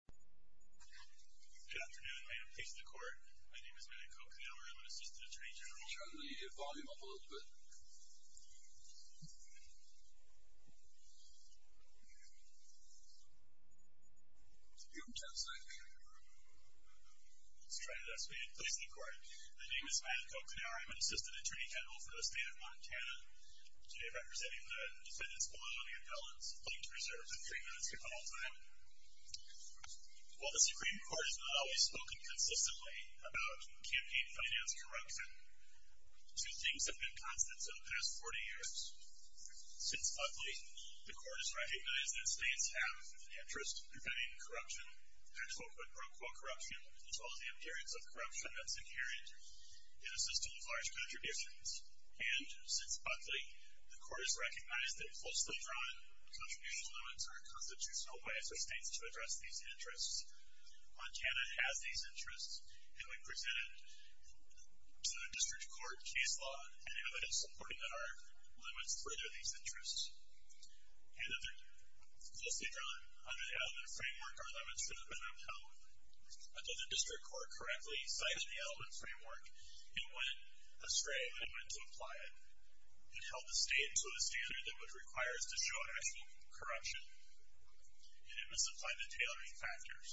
Good afternoon, ma'am. Please to the court. My name is Matt Kocanower. I'm an assistant attorney general. I'm going to turn the volume up a little bit. You have ten seconds. Let's try that again. Please to the court. My name is Matt Kocanower. I'm an assistant attorney general for the state of Montana. Today I'm representing the defendant's squad on the appellant's linked reserve. Three minutes to call time. While the Supreme Court has not always spoken consistently about campaign finance corruption, two things have been constant over the past 40 years. Since Buckley, the court has recognized that states have an interest in preventing corruption, and quote-unquote, quote-unquote, corruption, as well as the appearance of corruption that's inherent in a system of large contributions. And since Buckley, the court has recognized that closely drawn contribution limits are a constitutional way for states to address these interests. Montana has these interests, and we present it to the district court, case law, and evidence supporting that our limits further these interests. And closely drawn under the element framework, our limits for them have been upheld. Although the district court correctly cited the element framework, it went astray when it went to apply it. It held the state to a standard that would require us to show actual corruption, and it misapplied the tailoring factors.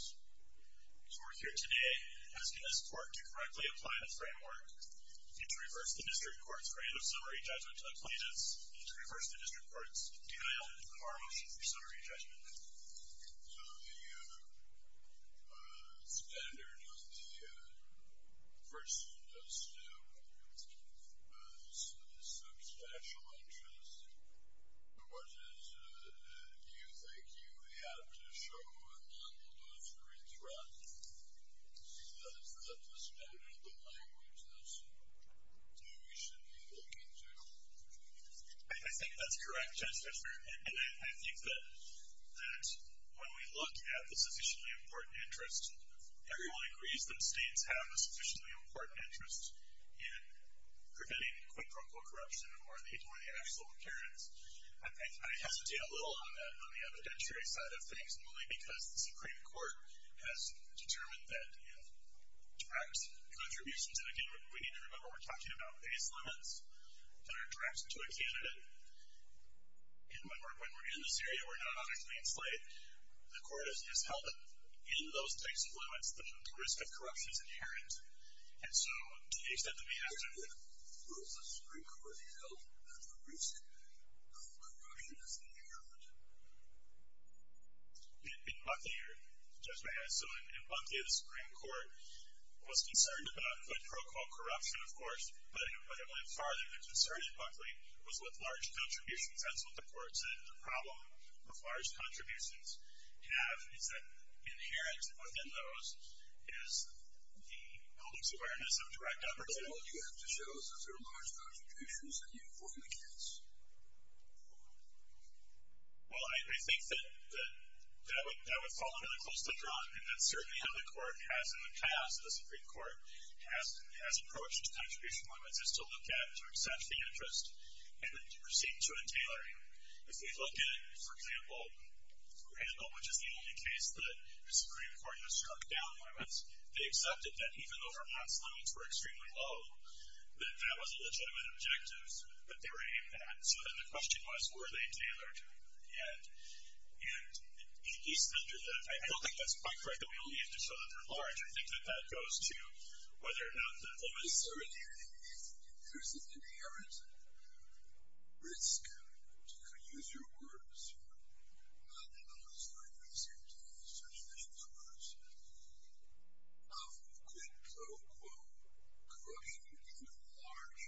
So we're here today asking this court to correctly apply the framework and to reverse the district court's rate of summary judgment to the plaintiffs and to reverse the district court's denial of our motion for summary judgment. So the standard of the first instance is substantial interest. What is it that you think you have to show among those three threats? Is that the standard, the language that we should be looking to? I think that's correct, Justice Breyer. And I think that when we look at the sufficiently important interest, everyone agrees that states have a sufficiently important interest in preventing quid pro quo corruption or the actual occurrence. I hesitate a little on the evidentiary side of things, mainly because the Supreme Court has determined that direct contributions, and again, we need to remember we're talking about base limits that are directed to a candidate. And when we're in this area, we're not on a clean slate. The court has held that in those types of limits, the risk of corruption is inherent. And so to the extent that we have to... Where has the Supreme Court held that the risk of corruption is inherent? In Buckley, Justice Breyer. So in Buckley, the Supreme Court was concerned about quid pro quo corruption, of course, but it went farther. The concern in Buckley was with large contributions. That's what the court said. The problem with large contributions is that inherent within those is the public's awareness of direct opportunity. Well, you have to show us that there are large contributions that you inform the case. Well, I think that that would fall really close to a draw. And that's certainly how the court has in the past, the Supreme Court, has approached contribution limits, is to look at, to accept the interest, and then to proceed to a tailoring. If we look at, for example, Randall, which is the only case that the Supreme Court has struck down limits, they accepted that even though Vermont's limits were extremely low, that that was a legitimate objective that they were aiming at. So then the question was, were they tailored? And East Ender, I don't think that's quite correct. So we only have to show that they're large. I think that that goes to whether or not the limits are inherent. If there's an inherent risk, to use your words, and I'm sorry for using such vicious words, of quid pro quo, cutting into large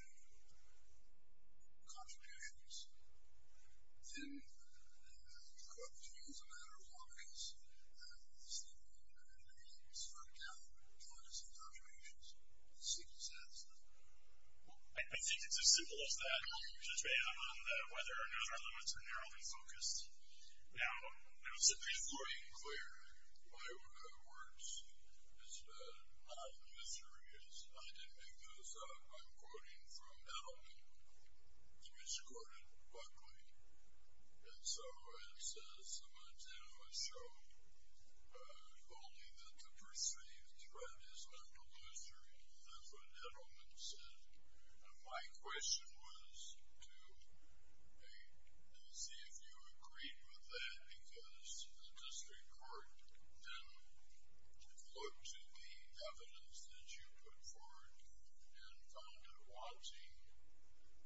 contributions, then the court would say, well, it's a matter of law because the Supreme Court has struck down the limits of contributions. The Supreme Court says that. Well, I think it's as simple as that. You just made a comment that whether or not our limits are narrowly focused. Now, it was simply plain and clear. My work, in other words, is that I'm mysterious. I didn't make those up. I'm quoting from Edelman, which quoted Buckley. And so it says, the material is true, only that the perceived threat is on the looser. And that's what Edelman said. And my question was to see if you agreed with that, because the district court then looked to the evidence that you put forward and found it wanting,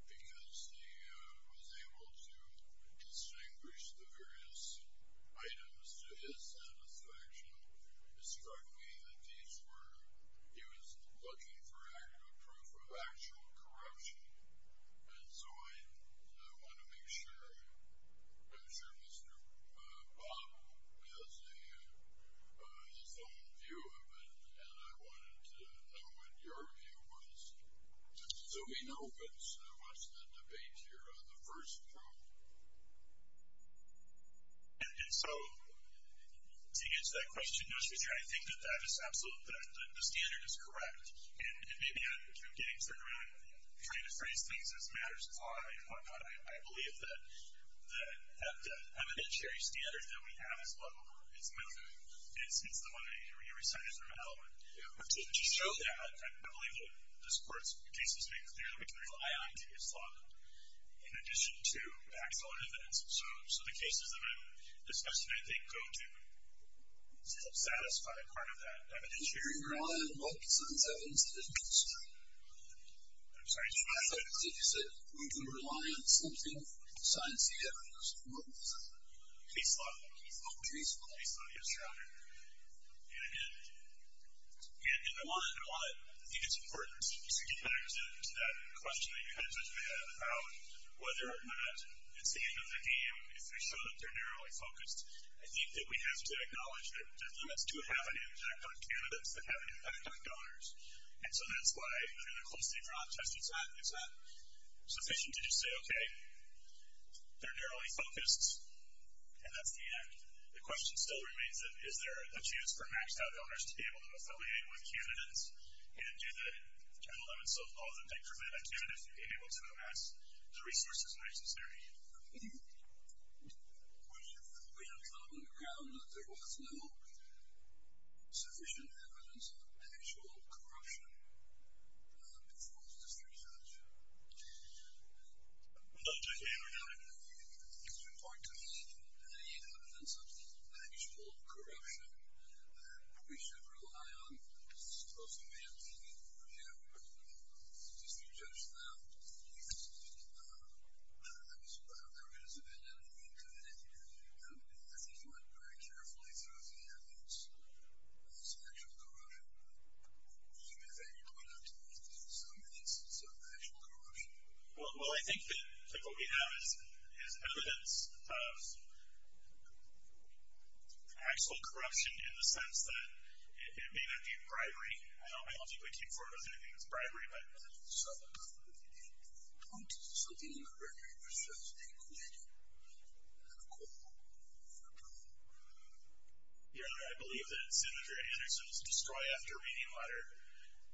because he was able to distinguish the various items to his satisfaction. It struck me that these were, he was looking for a proof of actual corruption. And so I want to make sure, I'm sure Mr. Bob has his own view of it, and I wanted to know what your view was. So we know, but what's the debate here on the first row? And so, to get to that question, Mr. Chair, I think that that is absolute, that the standard is correct. And maybe I'm getting turned around trying to phrase things as matters apply and whatnot. I believe that the evidentiary standard that we have is level. It's method. It's the one that you recited from Edelman. To show that, and I believe that this court's case has made clear that we can rely on case law in addition to the actual evidence. So the cases that I've discussed today, I think, go to satisfy part of that evidentiary standard. You're relying on what piece of this evidence to demonstrate? I'm sorry. I thought you said we can rely on something besides the evidence. What piece of it? Case law. Case law. Case law. Case law. Yes, Your Honor. And, again, I think it's important to get back to that question that you kind of touched on about whether or not it's the end of the game if we show that they're narrowly focused. I think that we have to acknowledge that limits do have an impact on candidates that have an impact on donors. And so that's why, in a closed-in process, it's not sufficient to just say, okay, they're narrowly focused, and that's the end. The question still remains, is there a choice for maxed-out donors to be able to affiliate with candidates and do the 1011 self-laws that make preventive candidates be able to amass the resources necessary? We have found on the ground that there was no sufficient evidence of actual corruption before this research. Dr. Cameron? It's important to me that you have evidence of actual corruption that we should rely on as opposed to maybe, you know, just to judge them. I mean, I don't know if it has been in any committee, but I think you went very carefully through the evidence of actual corruption. You mean that you went out to look for some evidence of actual corruption? Well, I think that what we have is evidence of actual corruption in the sense that it may not be bribery. I don't think we came forward with anything that's bribery. So the point is, is there something in the bribery that says they colluded in a call for approval? Yeah, I believe that Senator Anderson's destroy after reading letter,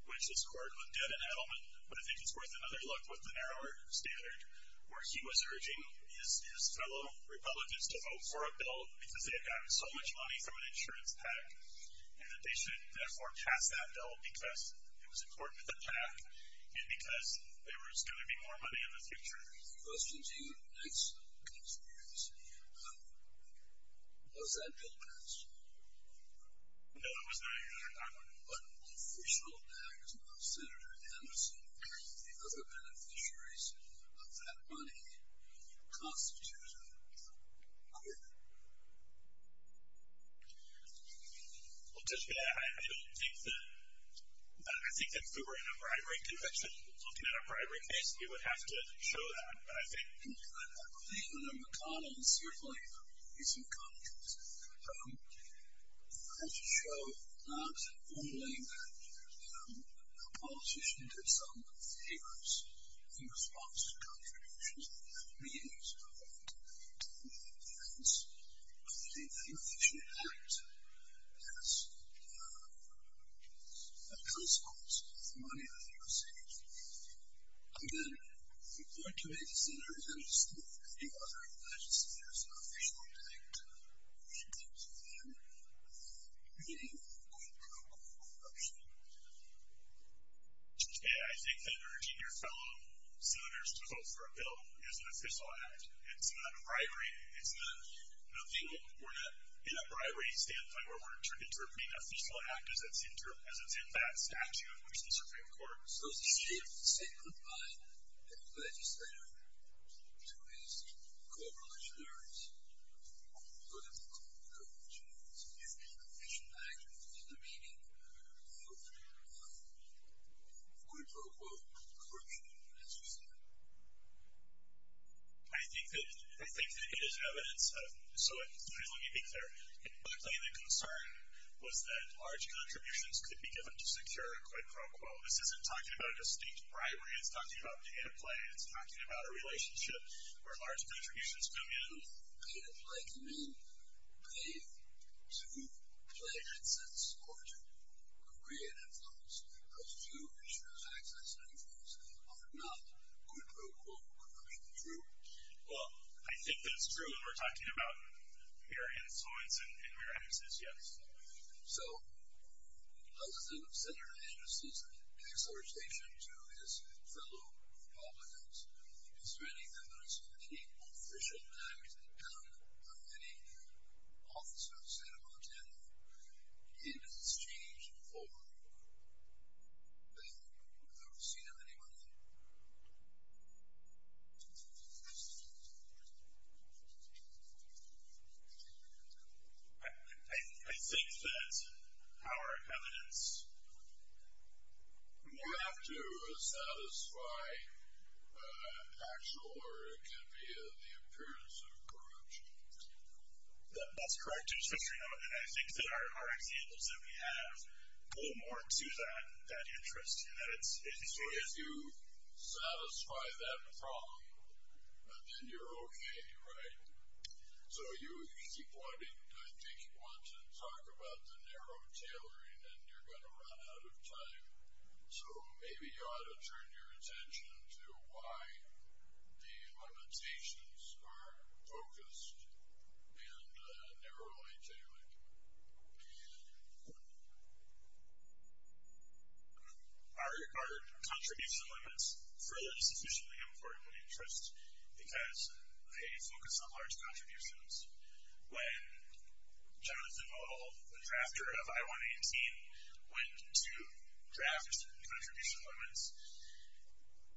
which this court did in Adelman, but I think it's worth another look with the narrower standard, where he was urging his fellow Republicans to vote for a bill because they had gotten so much money from an insurance pact and that they should therefore pass that bill because it was important to the pact and because there was going to be more money in the future. Question to you, next. How does that bill pass? No, that was not your question. What official act of Senator Anderson or any of the other beneficiaries of that money constitute a quid? Well, to be fair, I don't think that... I think that if we were in a bribery conviction, looking at a bribery case, we would have to show that. But I think... Senator McConnell, certainly, is in contrast. We have to show not only that the politician did some favors in response to contributions, but that means that the beneficiary act as a consequence of the money that they received. Okay. Report to me, Senator Anderson, if any other legislators are officially linked in terms of their meaningful quid pro quo action. I think that urging your fellow senators to vote for a bill is an official act. It's not a bribery. It's not... We're not in a bribery standpoint where we're turning it into being an official act as it's in that statute, which the Supreme Court... So the state could bind a legislator to his co-religionaries, so that the co-religionaries would be an official act in the meaning of a quid pro quo, according to the U.S. Constitution? I think that it is evidence of... So let me be clear. Partly the concern was that large contributions could be given to secure a quid pro quo. This isn't talking about a distinct bribery. It's talking about pay-to-play. It's talking about a relationship where large contributions come in. Pay-to-play can mean pay to pledges or to creative funds. Those two are not quid pro quo. Well, I think that's true when we're talking about mere insolence and mere excess, yes. So how does Senator Andrews' exhortation to his fellow Republicans in spreading the 1917 Official Act count on many officers in Montana in exchange for the receipt of any money? I think that our evidence... You have to satisfy actual, or it can be the appearance of, corruption. That's correct. And I think that our examples that we have pull more to that interest. So if you satisfy that problem, then you're okay, right? So you keep wanting... I think you want to talk about the narrow tailoring and you're going to run out of time. So maybe you ought to turn your attention to why the limitations are focused and narrowly tailored. Are contribution limits really sufficiently important an interest? Because they focus on large contributions. When Jonathan Modal, the drafter of I-118, went to draft contribution limits,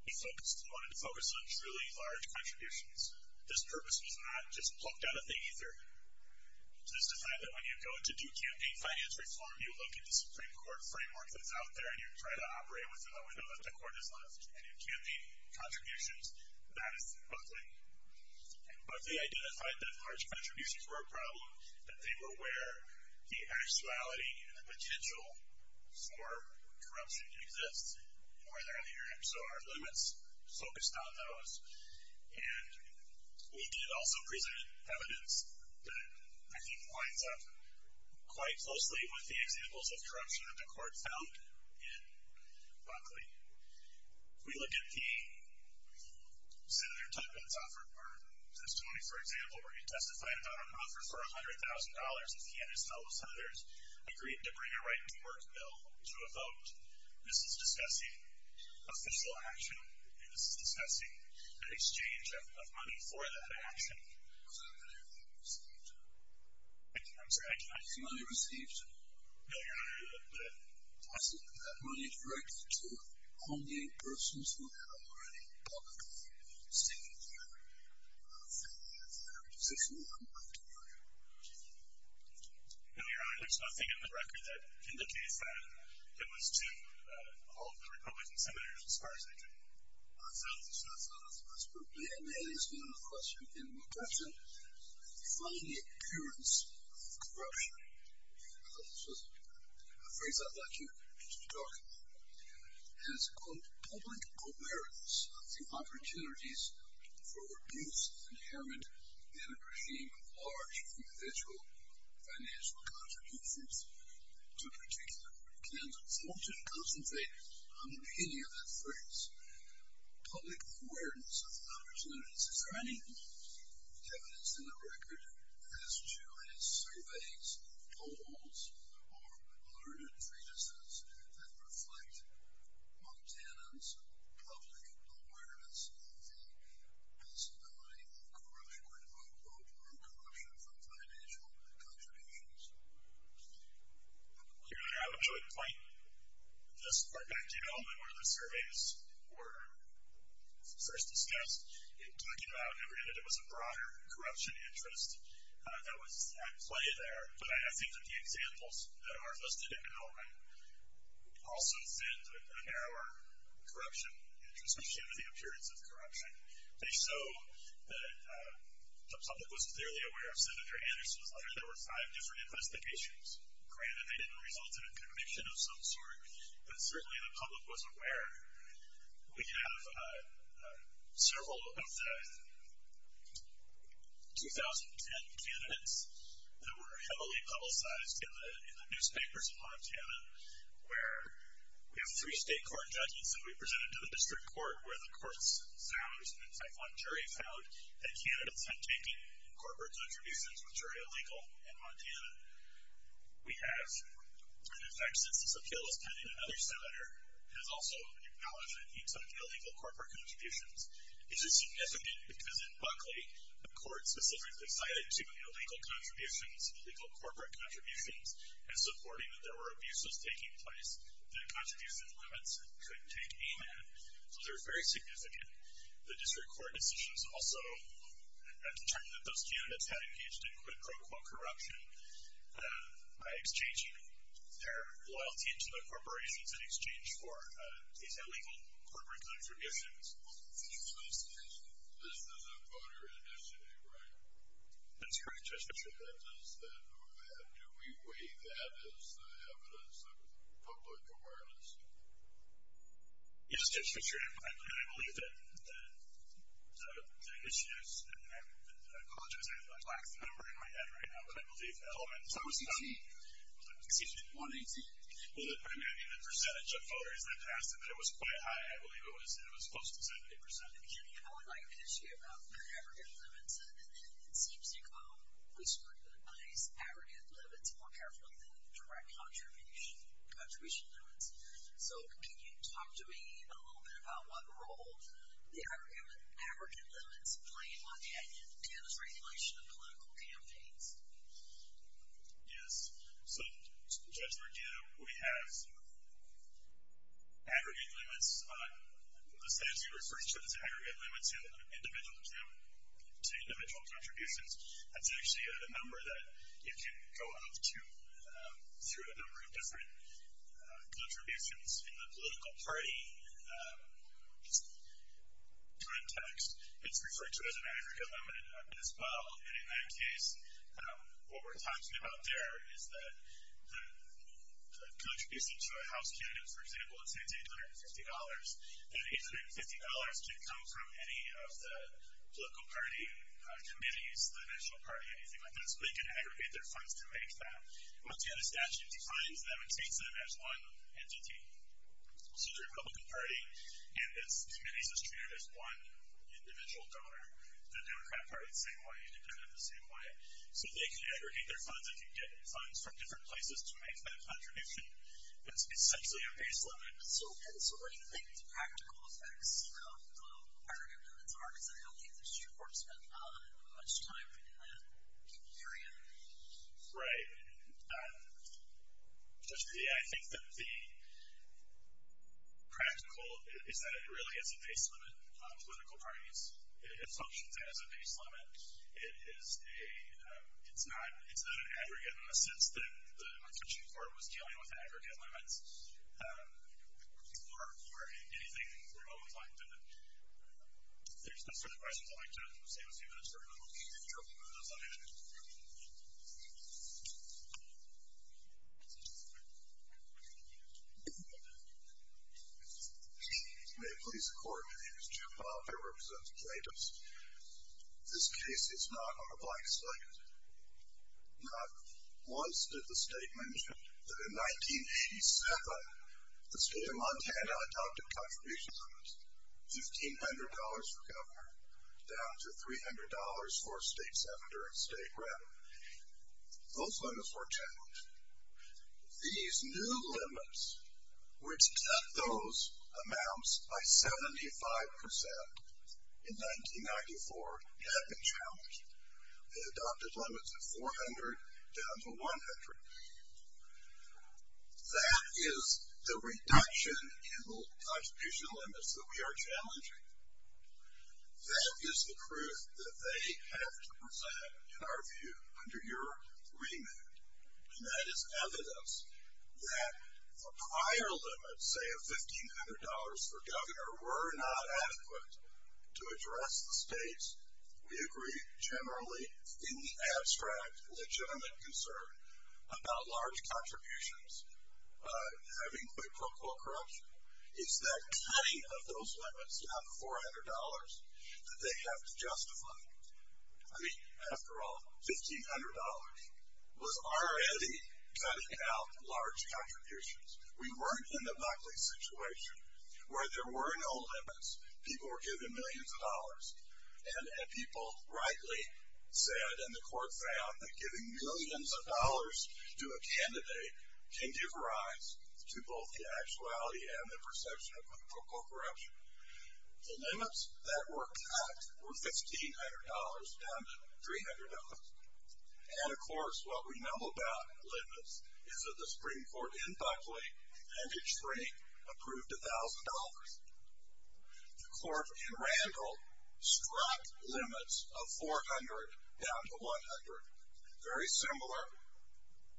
he wanted to focus on truly large contributions. This purpose was not just plucked out of thing, either. So this defined that when you go to do campaign finance reform, you look at the Supreme Court framework that's out there, and you try to operate within the window that the Court has left, and you campaign contributions, that is buckling. And Buckley identified that large contributions were a problem, that they were where the actuality and the potential for corruption exists, and where they're adhering. So our limits focused on those. And we did also present evidence that I think winds up quite closely with the examples of corruption that the Court found in Buckley. We looked at the Senator Tuckman's offer, or Senator Tony, for example, where he testified about an offer for $100,000 if he and his fellow senators agreed to bring a right-to-work bill to a vote. This is discussing official action, and this is discussing an exchange of money for that action. Was that money received? I'm sorry? Was the money received? No, Your Honor, the... Was that money directed to home-gate persons who had already publicly signaled that they were in a position to vote? No, Your Honor, there's nothing in the record that indicates that it was to all of the Republican senators as far as I can tell. That's not as possible. And that is not a question in my question. Find the appearance of corruption. This is a phrase I'd like you to talk about. And it's, quote, public awareness of the opportunities for abuse inherent in a regime of large individual financial contributions to a particular candidate. I want you to concentrate on the beginning of that phrase. Public awareness of the opportunities. Is there any evidence in the record as to his surveys, polls, or learned treatises that reflect Montana's public awareness of the possibility of corruption, or quote, quote, quote, corruption, from financial contributions? Your Honor, I would point this part back to you. In the moment where the surveys were first discussed, in talking about, and granted it was a broader corruption interest that was at play there, but I think that the examples that are listed in the moment also send a narrower corruption interest when you look at the appearance of corruption. They show that the public was clearly aware of Senator Anderson's letter. There were five different investigations. Granted, they didn't result in a conviction of some sort, but certainly the public was aware. We have several of the 2010 candidates that were heavily publicized in the newspapers in Montana where we have three state court judges that we presented to the district court where the courts found, in fact one jury found, that candidates had taken corporate contributions which are illegal in Montana. We have, in fact, since this appeal was pending, another senator has also acknowledged that he took illegal corporate contributions. These are significant because in Buckley, the court specifically cited two illegal contributions, illegal corporate contributions, as supporting that there were abuses taking place, that contribution limits could take aim at, so they're very significant. The district court decisions also have determined that those two candidates had engaged in quote-unquote corruption by exchanging their loyalty to the corporations in exchange for these illegal corporate contributions. This is a voter initiative, right? That's correct, Judge Fitzgerald. Do we weigh that as the evidence of public awareness? Yes, Judge Fitzgerald. I believe that the issues, and I apologize, I have a black number in my head right now, but I believe the elements of- So it was 18? Excuse me? 118? Well, I mean, the percentage of voters that passed, and it was quite high, I believe it was close to 70%. I would like to ask you about the aggregate limits and then it seems to come, we started with a nice aggregate limit, more carefully than direct contribution limits, so can you talk to me a little bit about what role the aggregate limits play on the agenda for regulation of political campaigns? Yes, so Judge Merdita, we have aggregate limits, the statute refers to this aggregate limit to individual contributions. That's actually a number that you can go up to through a number of different contributions in the political party context. It's referred to as an aggregate limit as well, and in that case, what we're talking about there is that the contribution to a House candidate, for example, it's $850, and $850 can come from any of the political party committees, the National Party, anything like that, so they can aggregate their funds to make that. Once again, the statute defines them and states them as one entity, so the Republican Party and its committees is treated as one individual donor, the Democrat Party the same way, independent the same way, so they can aggregate their funds, they can get funds from different places to make that contribution. It's essentially a base limit. And so what do you think the practical effects of the aggregate limits are? Because I don't think the Supreme Court spent much time in that area. Right. I think that the practical is that it really is a base limit on political parties. It functions as a base limit. It is a... It's not an aggregate in the sense that the Constitutional Court was dealing with aggregate limits or anything remotely like that. If there's no further questions, I'd like to say we'll see you in a second. I'm going to keep you in trouble with those ideas. May it please the Court. My name is Jim Bobb. I represent the plaintiffs. This case is not on the black side. Not once did the state mention that in 1987 the state of Montana adopted contributions limits, $1,500 for governor down to $300 for state senator and state rep. Those limits were challenged. These new limits, which cut those amounts by 75% in 1994, had been challenged. They adopted limits of $400 down to $100. That is the reduction in the contribution limits that we are challenging. That is the truth that they have to present, in our view, under your remit. And that is evidence that a prior limit, say of $1,500 for governor, were not adequate to address the state's, we agree, generally, in the abstract, legitimate concern about large contributions having quick, quick corruption. It's that cutting of those limits down to $400 that they have to justify. I mean, after all, $1,500 was already cutting out large contributions. We weren't in the Buckley situation, where there were no limits. People were given millions of dollars. And people rightly said, and the court found, that giving millions of dollars to a candidate can give rise to both the actuality and the perception of quick, quick corruption. The limits that were cut were $1,500 down to $300. And of course, what we know about limits is that the Supreme Court in Buckley, in mid-Spring, approved $1,000. The court in Randall struck limits of $400 down to $100. Very similar,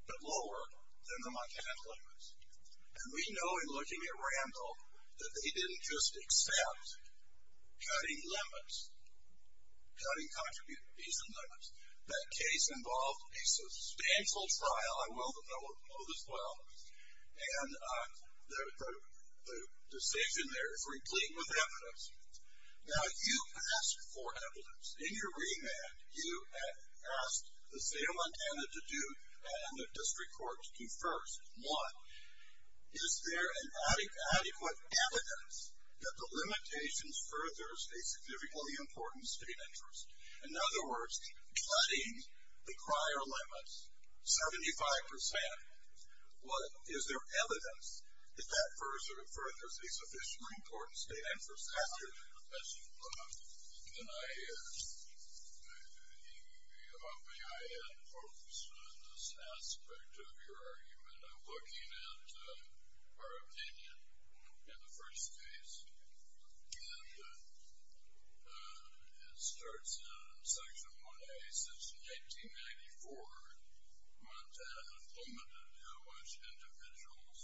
but lower than the Montana limits. And we know, in looking at Randall, that they didn't just accept cutting limits, cutting contribution fees and limits. That case involved a substantial trial, I will note as well. And the decision there is replete with evidence. Now, you asked for evidence. In your remand, you asked the state of Montana to do and the district courts to do first. One, is there an adequate evidence that the limitations furthers a significantly important state interest? In other words, cutting the prior limits, 75%, one, is there evidence that that furthers a sufficiently important state interest? That's a good question. And I hope that I had focused on this aspect of your argument. I'm looking at our opinion in the first case. And it starts in Section 1A, since 1994, Montana limited how much individuals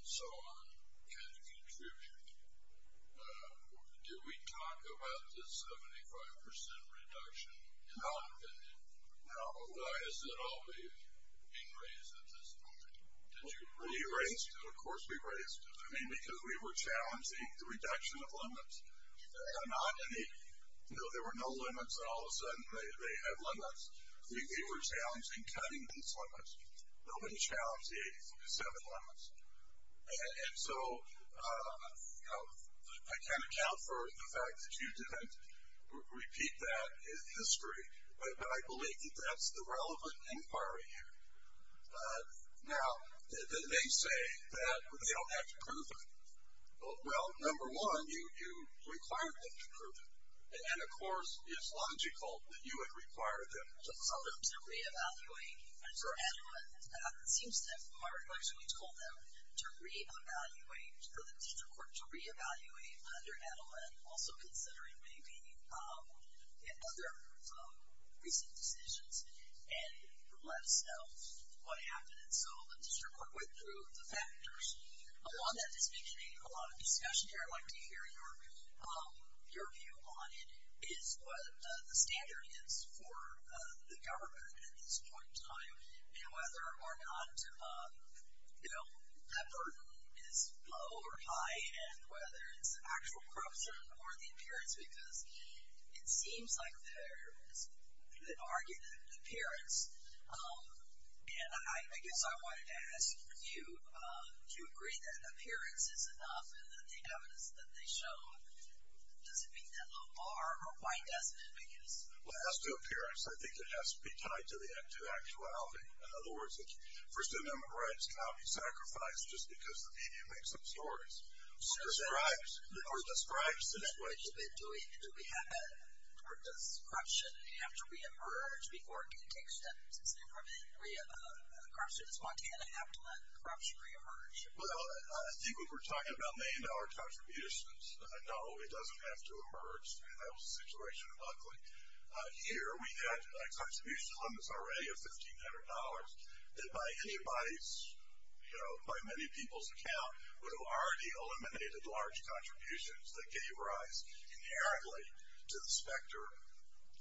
and so on can contribute. Did we talk about the 75% reduction in our opinion? No. Why is it all being raised at this point? Did you raise it? We raised it. Of course we raised it. I mean, because we were challenging the reduction of limits. There were no limits. And all of a sudden, they had limits. I mean, we were challenging cutting these limits. Nobody challenged the 87 limits. And so I can't account for the fact that you didn't repeat that history. But I believe that that's the relevant inquiry here. Now, they say that they don't have to prove it. Well, number one, you required them to prove it. And then, of course, it's logical that you would require them to prove it. To re-evaluate under Adelman. It seems that Margaret actually told them to re-evaluate, for the district court to re-evaluate under Adelman, also considering maybe other recent decisions and let us know what happened. And so the district court went through the factors. Along that distinction, a lot of discussion here. I'd like to hear your view on it. Is what the standard is for the government at this point in time? And whether or not that burden is low or high? And whether it's actual corruption or the appearance? Because it seems like there is an argument in appearance. And I guess I wanted to ask you, do you agree that appearance is enough and that the evidence that they show, does it meet that little bar? Or why doesn't it meet it? Well, it has to do with appearance. I think it has to be tied to the actuality. In other words, First Amendment rights cannot be sacrificed just because the media makes up stories. Or describes it. Or describes what you've been doing. Do we have that? Or does corruption have to reemerge before it can take steps? Does Montana have to let corruption reemerge? Well, I think when we're talking about million dollar contributions, no, it doesn't have to emerge. That was the situation in Buckley. Here, we had a contribution on this already of $1,500. And by anybody's, you know, by many people's account, would have already eliminated large contributions that gave rise inherently to the specter.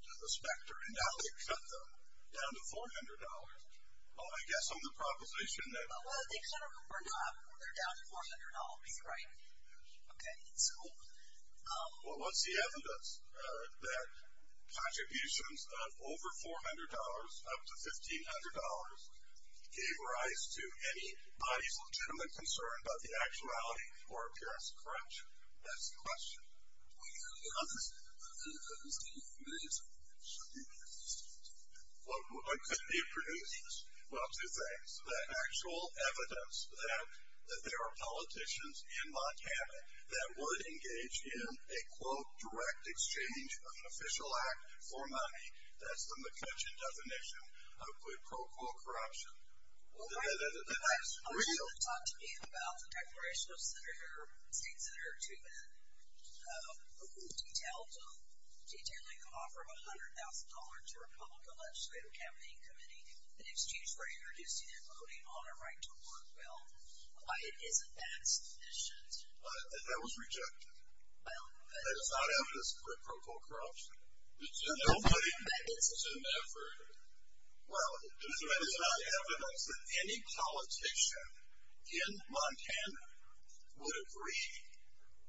And now they've cut them down to $400. Well, I guess on the proposition that. Well, they cut them down to $400. That's right. Okay, so. Well, what's the evidence that contributions of over $400 up to $1,500 gave rise to anybody's legitimate concern about the actuality or appearance of corruption? That's the question. Well, you know, there's millions of millions. What could be produced? Well, two things. The actual evidence that there are politicians in Montana that would engage in a, quote, direct exchange of an official act for money. That's the McCutcheon definition of, quote, quote, corruption. That's real. People have talked to me about the declaration of Senator, State Senator Tubman, who detailed detailing the offer of $100,000 to a Republican legislative campaign committee in exchange for introducing and voting on a right to work bill. Why isn't that sufficient? That was rejected. Well. That is not evidence for, quote, quote, corruption. Nobody. That is. Never. Well, that is not evidence that any politician in Montana would agree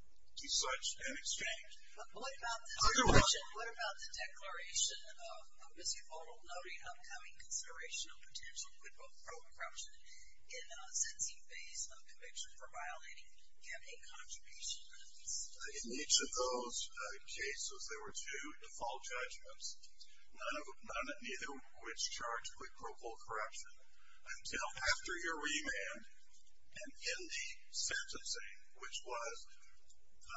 to such an exchange. What about the declaration of a misuphonal note in upcoming consideration of potential quid pro quo corruption in a sensing phase of conviction for violating campaign contributions? In each of those cases, there were two default judgments. None of which charged quid pro quo corruption until after your remand and in the sentencing, which was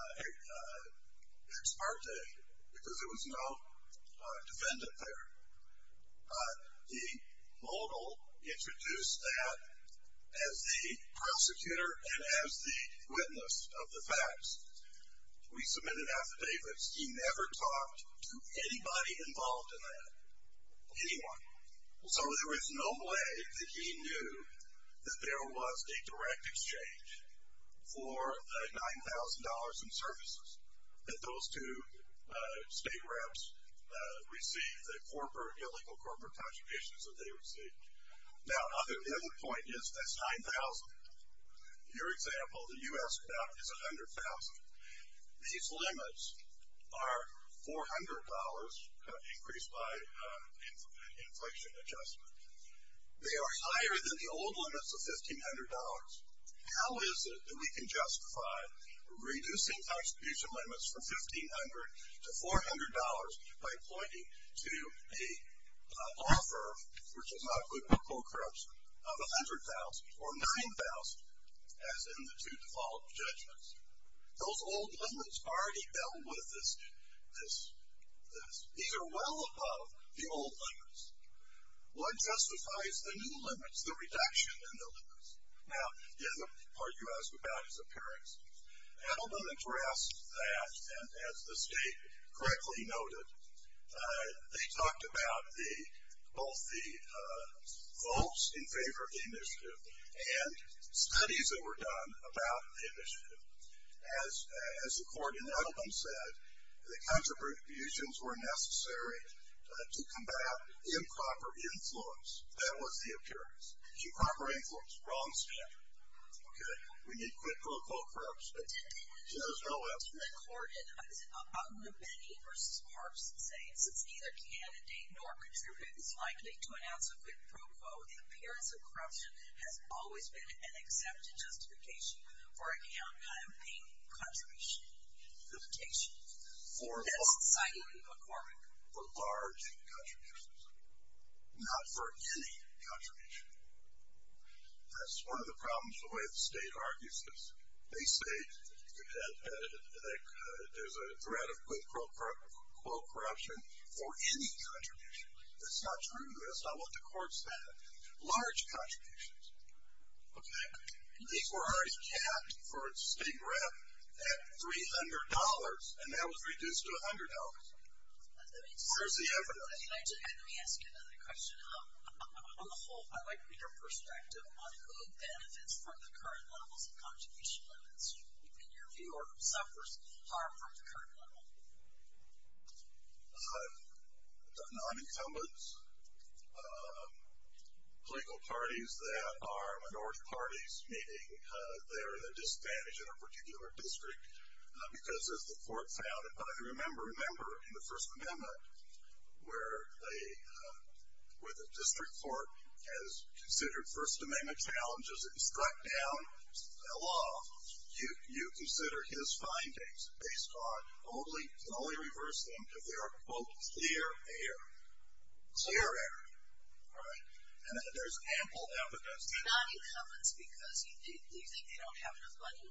ex parte, because there was no defendant there. The mogul introduced that as the prosecutor and as the witness of the facts. We submitted affidavits. He never talked to anybody involved in that. Anyone. So there was no way that he knew that there was a direct exchange for the $9,000 in services that those two state reps received, the illegal corporate contributions that they received. Now, the other point is, that's $9,000. These limits are $400 increased by inflation adjustment. They are higher than the old limits of $1,500. How is it that we can justify reducing contribution limits from $1,500 to $400 by pointing to an offer, which is not quid pro quo corruption, of $100,000 or $9,000, as in the two default judgments? Those old limits already dealt with this. These are well above the old limits. What justifies the new limits, the reduction in the limits? Now, the other part you asked about is appearance. Edelman addressed that, and as the state correctly noted, they talked about both the votes in favor of the initiative and studies that were done about the initiative. As the court in Edelman said, the contributions were necessary to combat improper influence. That was the appearance. Improper influence. Wrong standard. Okay. We need quid pro quo corruption. There's no answer. The court in Mabini v. Parks says it's neither candidate nor contributor that's likely to announce a quid pro quo. The appearance of corruption has always been an accepted justification for a campaign contribution limitation. That's citing a quorum. For large contributions. Not for any contribution. That's one of the problems with the way the state argues this. They say there's a threat of quid pro quo corruption for any contribution. That's not true. That's not what the court said. Large contributions. Okay. These were always capped for a state rep at $300, and that was reduced to $100. Where's the evidence? Let me ask you another question. On the whole, I'd like to get your perspective on who benefits from the current levels of contribution limits. In your view, or who suffers harm from the current level. The non-incumbents. Political parties that are minority parties, meaning they're at a disadvantage in a particular district, because as the court found it. But I remember in the First Amendment where the district court has considered the First Amendment challenges, it was struck down, fell off. You consider his findings based on only reverse them because they are, quote, clear air. Clear air. Right? And there's ample evidence. The non-incumbents because you think they don't have enough money?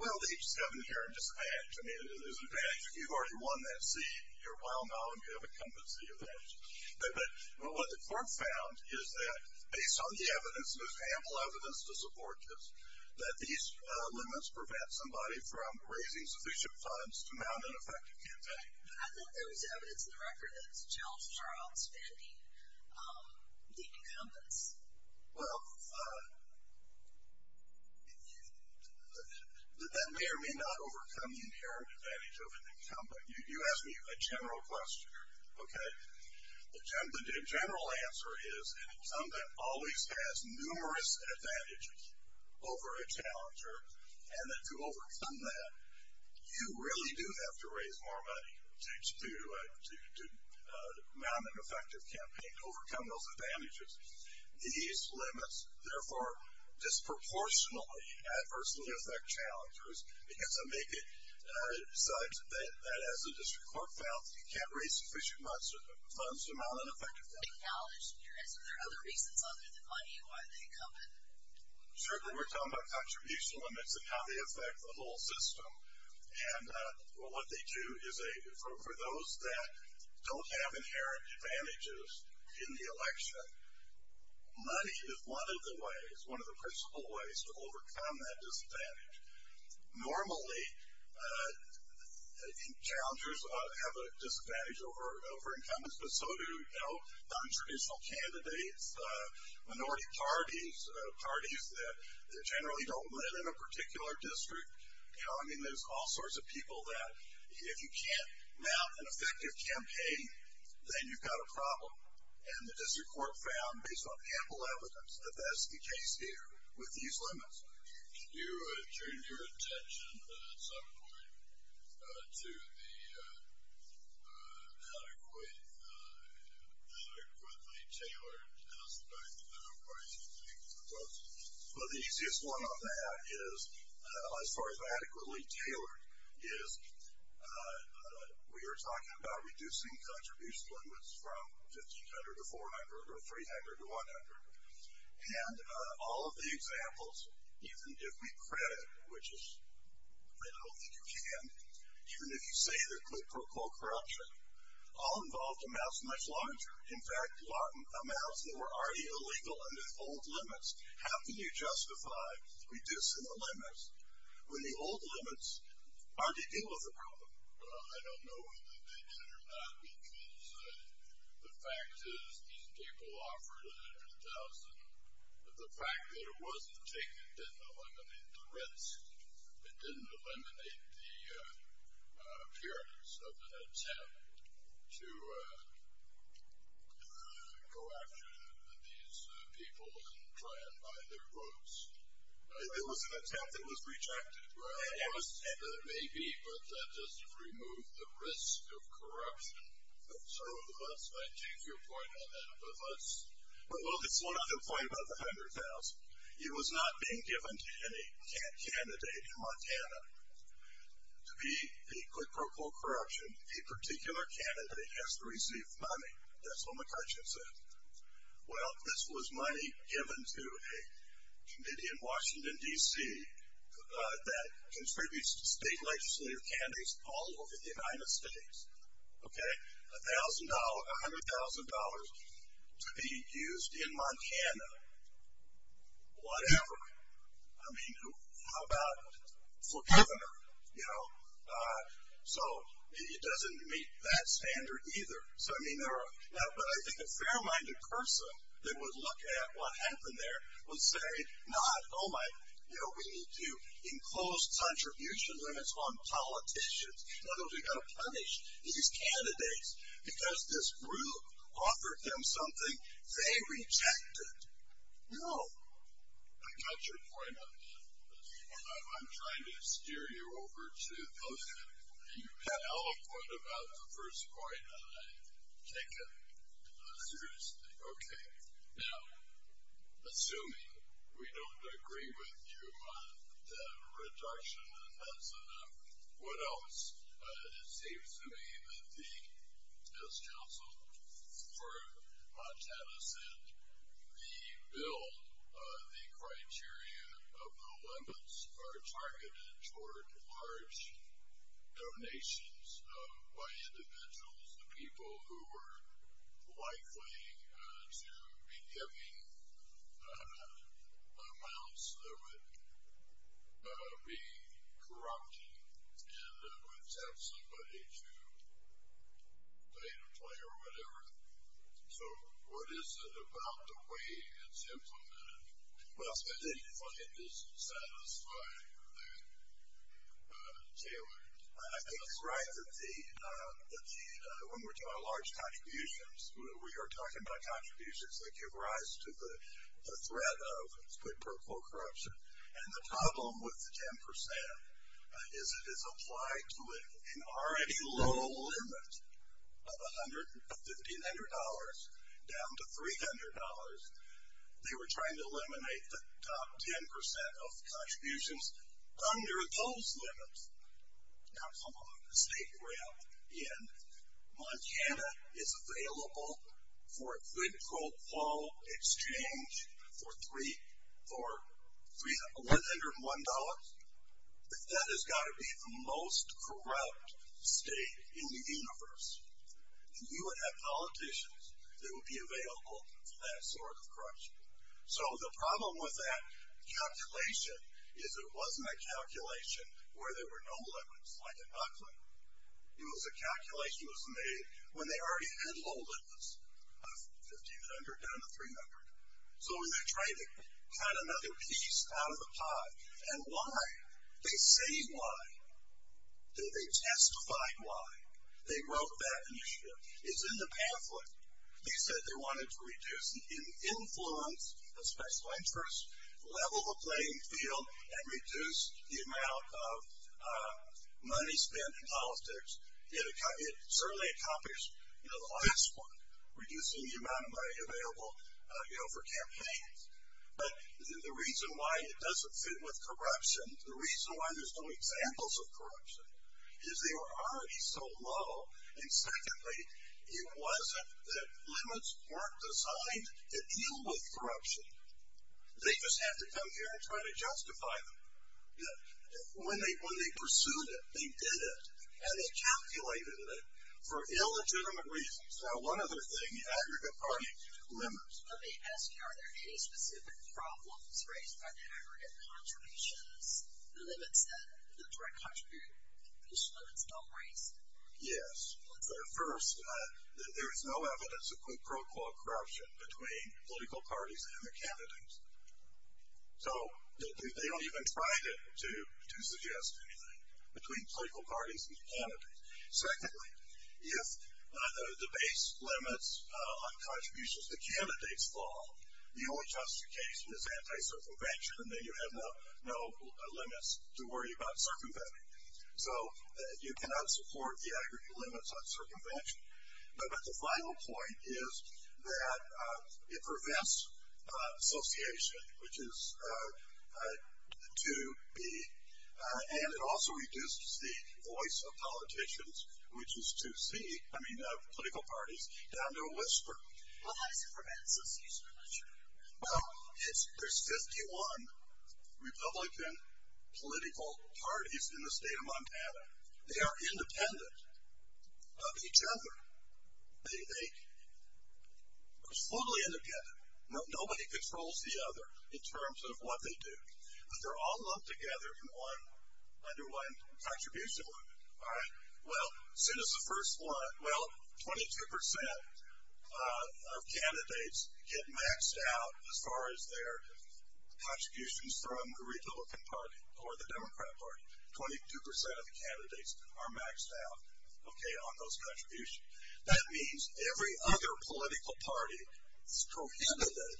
Well, they just come in here and dispatch. I mean, there's an advantage. If you've already won that seat, you're well known. You have a competency advantage. But what the court found is that based on the evidence, and there's ample evidence to support this, that these limits prevent somebody from raising sufficient funds to mount an effective campaign. I think there was evidence in the record that it's Charles Charles Vandy, the incumbents. Well, that may or may not overcome the inherent advantage of an incumbent. You asked me a general question, okay? The general answer is an incumbent always has numerous advantages over a challenger, and to overcome that, you really do have to raise more money to mount an effective campaign to overcome those advantages. These limits, therefore, disproportionately adversely affect challengers because it decides that as a district court found, you can't raise sufficient funds to mount an effective campaign. I acknowledge your answer. Are there other reasons other than money? Why are they incumbent? Certainly, we're talking about contribution limits and how they affect the whole system. And what they do is for those that don't have inherent advantages in the election, money is one of the ways, one of the principal ways to overcome that disadvantage. Normally, challengers have a disadvantage over incumbents, but so do non-traditional candidates, minority parties, parties that generally don't live in a particular district. I mean, there's all sorts of people that if you can't mount an effective campaign, then you've got a problem. And the district court found, based on ample evidence, that that's the case here with these limits. Can you turn your attention at some point to the adequately tailored aspect of why you think that's possible? Well, the easiest one on that is, as far as adequately tailored, is we are talking about reducing contribution limits from 1,500 to 400 or 300 to 100. And all of the examples, even if we credit, which I don't think you can, even if you say they're good for co-corruption, all involved amounts much larger. In fact, amounts that were already illegal under old limits. How can you justify reducing the limits when the old limits already deal with the problem? Well, I don't know whether they did or not because the fact is that these people offered 100,000. The fact that it wasn't taken didn't eliminate the risk. It didn't eliminate the appearance of an attempt to go after these people and try and buy their votes. It was an attempt that was rejected. It may be, but that doesn't remove the risk of corruption. I take your point on that. Well, there's one other point about the 100,000. It was not being given to any candidate in Montana. To be a quid pro quo corruption, a particular candidate has to receive money. That's what McCarthy said. Well, this was money given to a committee in Washington, D.C. that contributes to state legislative candidates all over the United States. $1,000, $100,000 to be used in Montana, whatever. I mean, how about for governor? So it doesn't meet that standard either. But I think a fair-minded person that would look at what happened there would say, no, we need to enclose contribution limits on politicians. In other words, we've got to punish these candidates because this group offered them something they rejected. No. I got your point on that. I'm trying to steer you over to those things. You've got a point about the first point that I've taken seriously. Okay. Now, assuming we don't agree with you on the reduction, and that's enough, what else? It seems to me that as counsel for Montana said, the bill, the criteria of the limits, are targeted toward large donations by individuals, the people who are likely to be giving amounts that would be corrupting and would tempt somebody to play the player or whatever. So what is it about the way it's implemented? I didn't find this satisfying or that tailored. I think it's right that when we're talking about large contributions, we are talking about contributions that give rise to the threat of, let's put it, pro-corruption. And the problem with the 10% is it is applied to an already low limit of $150, down to $300. They were trying to eliminate the top 10% of contributions under those limits. Now, come on, the state we're in, Montana is available for a quid pro quo exchange for $101? That has got to be the most corrupt state in the universe. And you would have politicians that would be available for that sort of corruption. So the problem with that calculation is it wasn't a calculation where there were no limits, like in Buckley. It was a calculation that was made when they already had low limits of $1500 down to $300. So they're trying to cut another piece out of the pie. And why? They say why. They testify why. They wrote that initiative. It's in the pamphlet. They said they wanted to reduce the influence of special interests, level the playing field, and reduce the amount of money spent in politics. It certainly accomplished the last one, reducing the amount of money available for campaigns. But the reason why it doesn't fit with corruption, the reason why there's no examples of corruption, is they were already so low. And secondly, it wasn't that limits weren't designed to deal with corruption. They just had to come here and try to justify them. When they pursued it, they did it. And they calculated it for illegitimate reasons. Now, one other thing, aggregate party limits. Let me ask you, are there any specific problems raised by the aggregate contributions, the limits that the direct contribution limits don't raise? Yes. First, there is no evidence of pro quo corruption between political parties and the candidates. So they don't even try to suggest anything between political parties and the candidates. Secondly, if the base limits on contributions to candidates fall, the only justification is anti-circumvention, and then you have no limits to worry about circumventing. So you cannot support the aggregate limits on circumvention. But the final point is that it prevents association, which is 2B, and it also reduces the voice of politicians, which is 2C, I mean political parties, down to a whisper. Well, how does it prevent association? I'm not sure. Well, there's 51 Republican political parties in the state of Montana. They are independent of each other. They are totally independent. Nobody controls the other in terms of what they do. But they're all lumped together in one underlined contribution limit. All right. Well, send us the first one. Well, 22% of candidates get maxed out as far as their contributions from the Republican Party or the Democrat Party. 22% of the candidates are maxed out, okay, on those contributions. That means every other political party is prohibited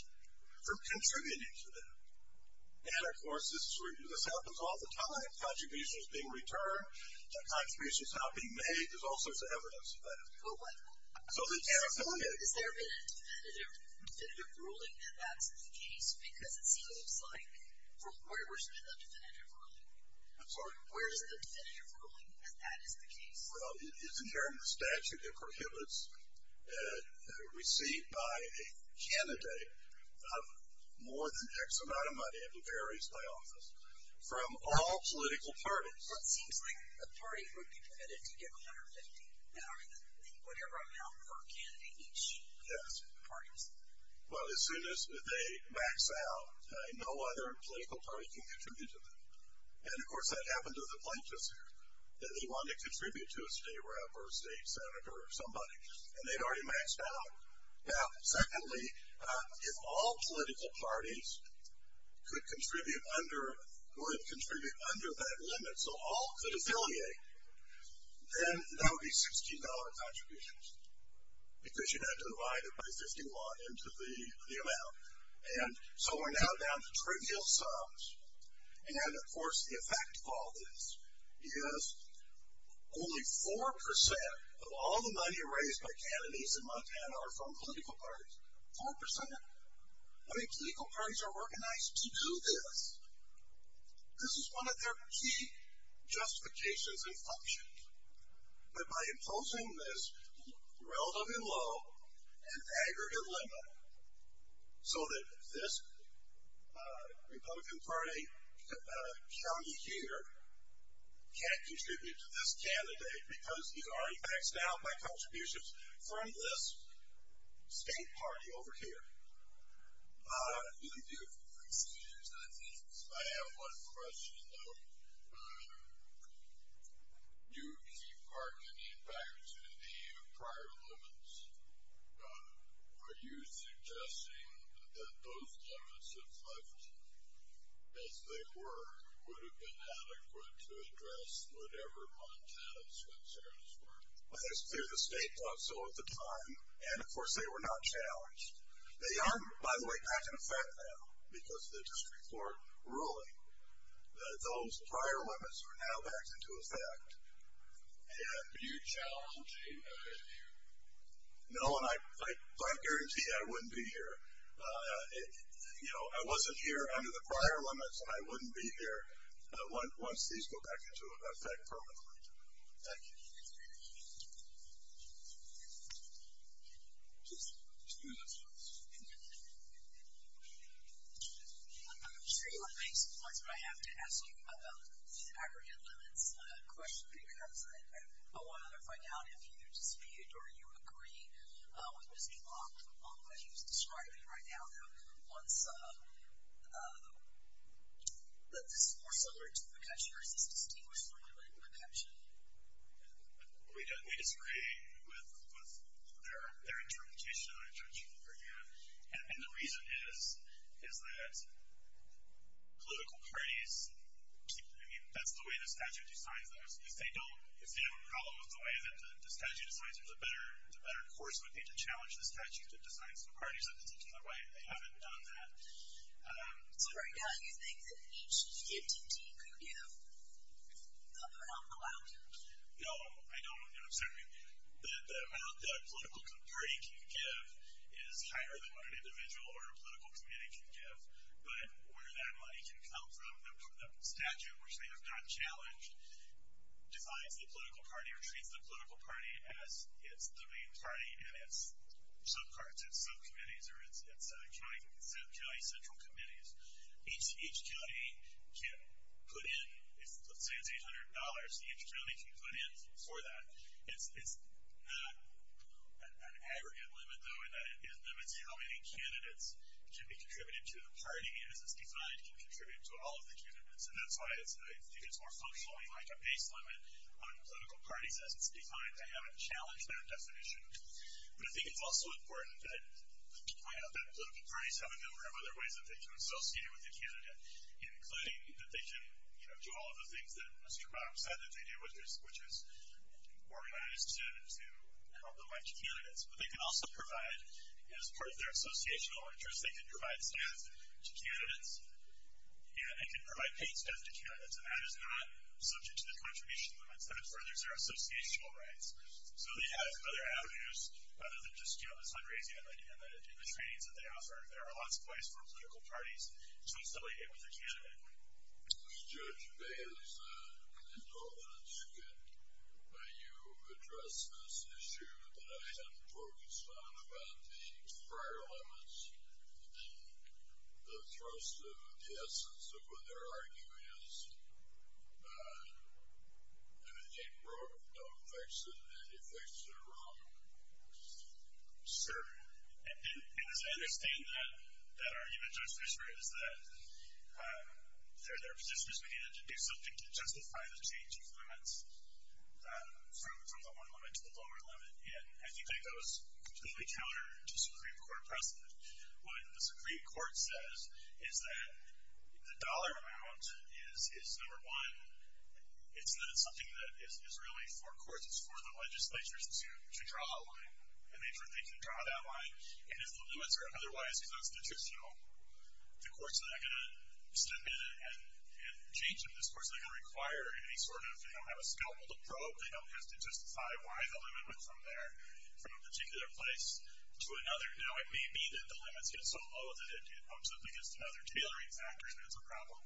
from contributing to them. And, of course, this happens all the time. Contributions being returned. Contributions not being made. There's all sorts of evidence of that. Is there a definitive ruling that that's the case? Because it seems like from where there's been a definitive ruling. I'm sorry? Where is the definitive ruling that that is the case? Well, it's in here in the statute. It prohibits receipt by a candidate of more than X amount of money, and it varies by office, from all political parties. Well, it seems like a party would be permitted to give 150, whatever amount per candidate each. Yes. Parties. Well, as soon as they max out, no other political party can contribute to them. And, of course, that happened to the plaintiffs here. They wanted to contribute to a state rep or a state senator or somebody, and they'd already maxed out. Now, secondly, if all political parties could contribute under that limit, so all could affiliate, then there would be $60 contributions, because you'd have to divide it by 51 into the amount. And so we're now down to trivial sums. And, of course, the effect of all this is only 4% of all the money raised by candidates in Montana are from political parties. 4%? How many political parties are organized to do this? This is one of their key justifications and functions, that by imposing this relatively low and aggregate limit so that this Republican Party county here can't contribute to this candidate because he's already maxed out by contributions from this state party over here. Let me see if there's anything else. I have one question, though. You keep hearkening back to the prior limits. Are you suggesting that those limits, if left as they were, would have been adequate to address whatever Montana's concerns were? I think it's clear the state thought so at the time, and, of course, they were not challenged. They aren't, by the way, back in effect now, because of the district court ruling that those prior limits are now back into effect. Are you challenging that issue? No, and I guarantee I wouldn't be here. I wasn't here under the prior limits, and I wouldn't be here once these go back into effect permanently. Thank you. Any other questions? I just want to make some points that I have to ask you about the aggregate limits question because I want to find out if you dispute or you agree with Mr. Block on what he was describing right now, that this is more similar to McCutcheon or is this dispute more similar to McCutcheon? We disagree with their interpretation of the argument, and the reason is that political parties, I mean, that's the way the statute decides those. If they don't have a problem with the way that the statute decides them, the better course would be to challenge the statute that decides the parties that they take on their way, and they haven't done that. So right now you think that each entity could give the amount allowed? No, I don't. I'm sorry. The amount that a political party can give is higher than what an individual or a political community can give, but where that money can come from, the statute, which they have not challenged, defines the political party or treats the political party as it's the main party and it's subcommittees or it's county central committees. Each county can put in, let's say it's $800, each county can put in for that. It's not an aggregate limit, though, in that it limits how many candidates can be contributed to the party, and as it's defined, can contribute to all of the candidates, and that's why I think it's more functionally like a base limit on political parties. As it's defined, they haven't challenged their definition. But I think it's also important that political parties have a number of other ways that they can associate with a candidate, including that they can do all of the things that Mr. Rob said that they do, which is organize to help them like candidates. But they can also provide, as part of their associational interest, they can provide staff to candidates and can provide paid staff to candidates, and that is not subject to the contribution limits. That furthers their associational rights. So they have other avenues other than just doing this fundraising and the trainings that they offer. There are lots of ways for political parties to associate with a candidate. Judge Bales, I don't know that you addressed this issue that I hadn't focused on about the prior elements and the thrust of the essence of what their argument is. Anything wrong affects it, and it affects it wrong. Sir. And as I understand that argument, Judge Booster, is that there are positions we need to do something to justify the change of limits from the one limit to the lower limit. And I think that goes completely counter to the Supreme Court precedent. What the Supreme Court says is that the dollar amount is, number one, it's not something that is really for courts. It's for the legislatures to draw a line. And they can draw that line, and if the limits are otherwise constitutional, the courts are not going to step in and change them. The courts are not going to require any sort of, you know, have a scalpel to probe. They don't have to justify why the limit went from there, from a particular place to another. Now, it may be that the limits get so low that it bumps up against another tailoring factor, and that's a problem.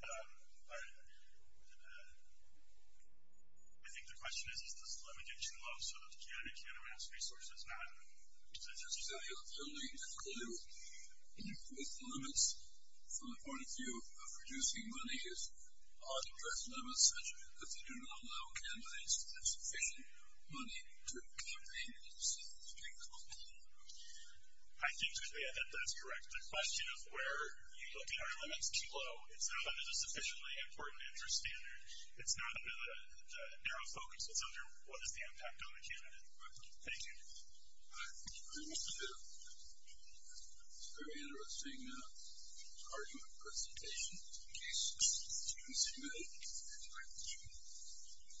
But I think the question is, does the limit get too low so that the candidate can't amass resources now? Judge, is there any alternative clue with limits from the point of view of reducing monies on direct limits such that they do not allow candidates with sufficient money to campaign themselves in court? I think, Judy, I think that's correct. The question is where you look at are limits too low. It's not under the sufficiently important interest standard. It's not under the narrow focus. It's under what is the impact on the candidate. Thank you. All right. Thank you very much, Jeff. Very interesting argument presentation. In case the students agree. Thank you.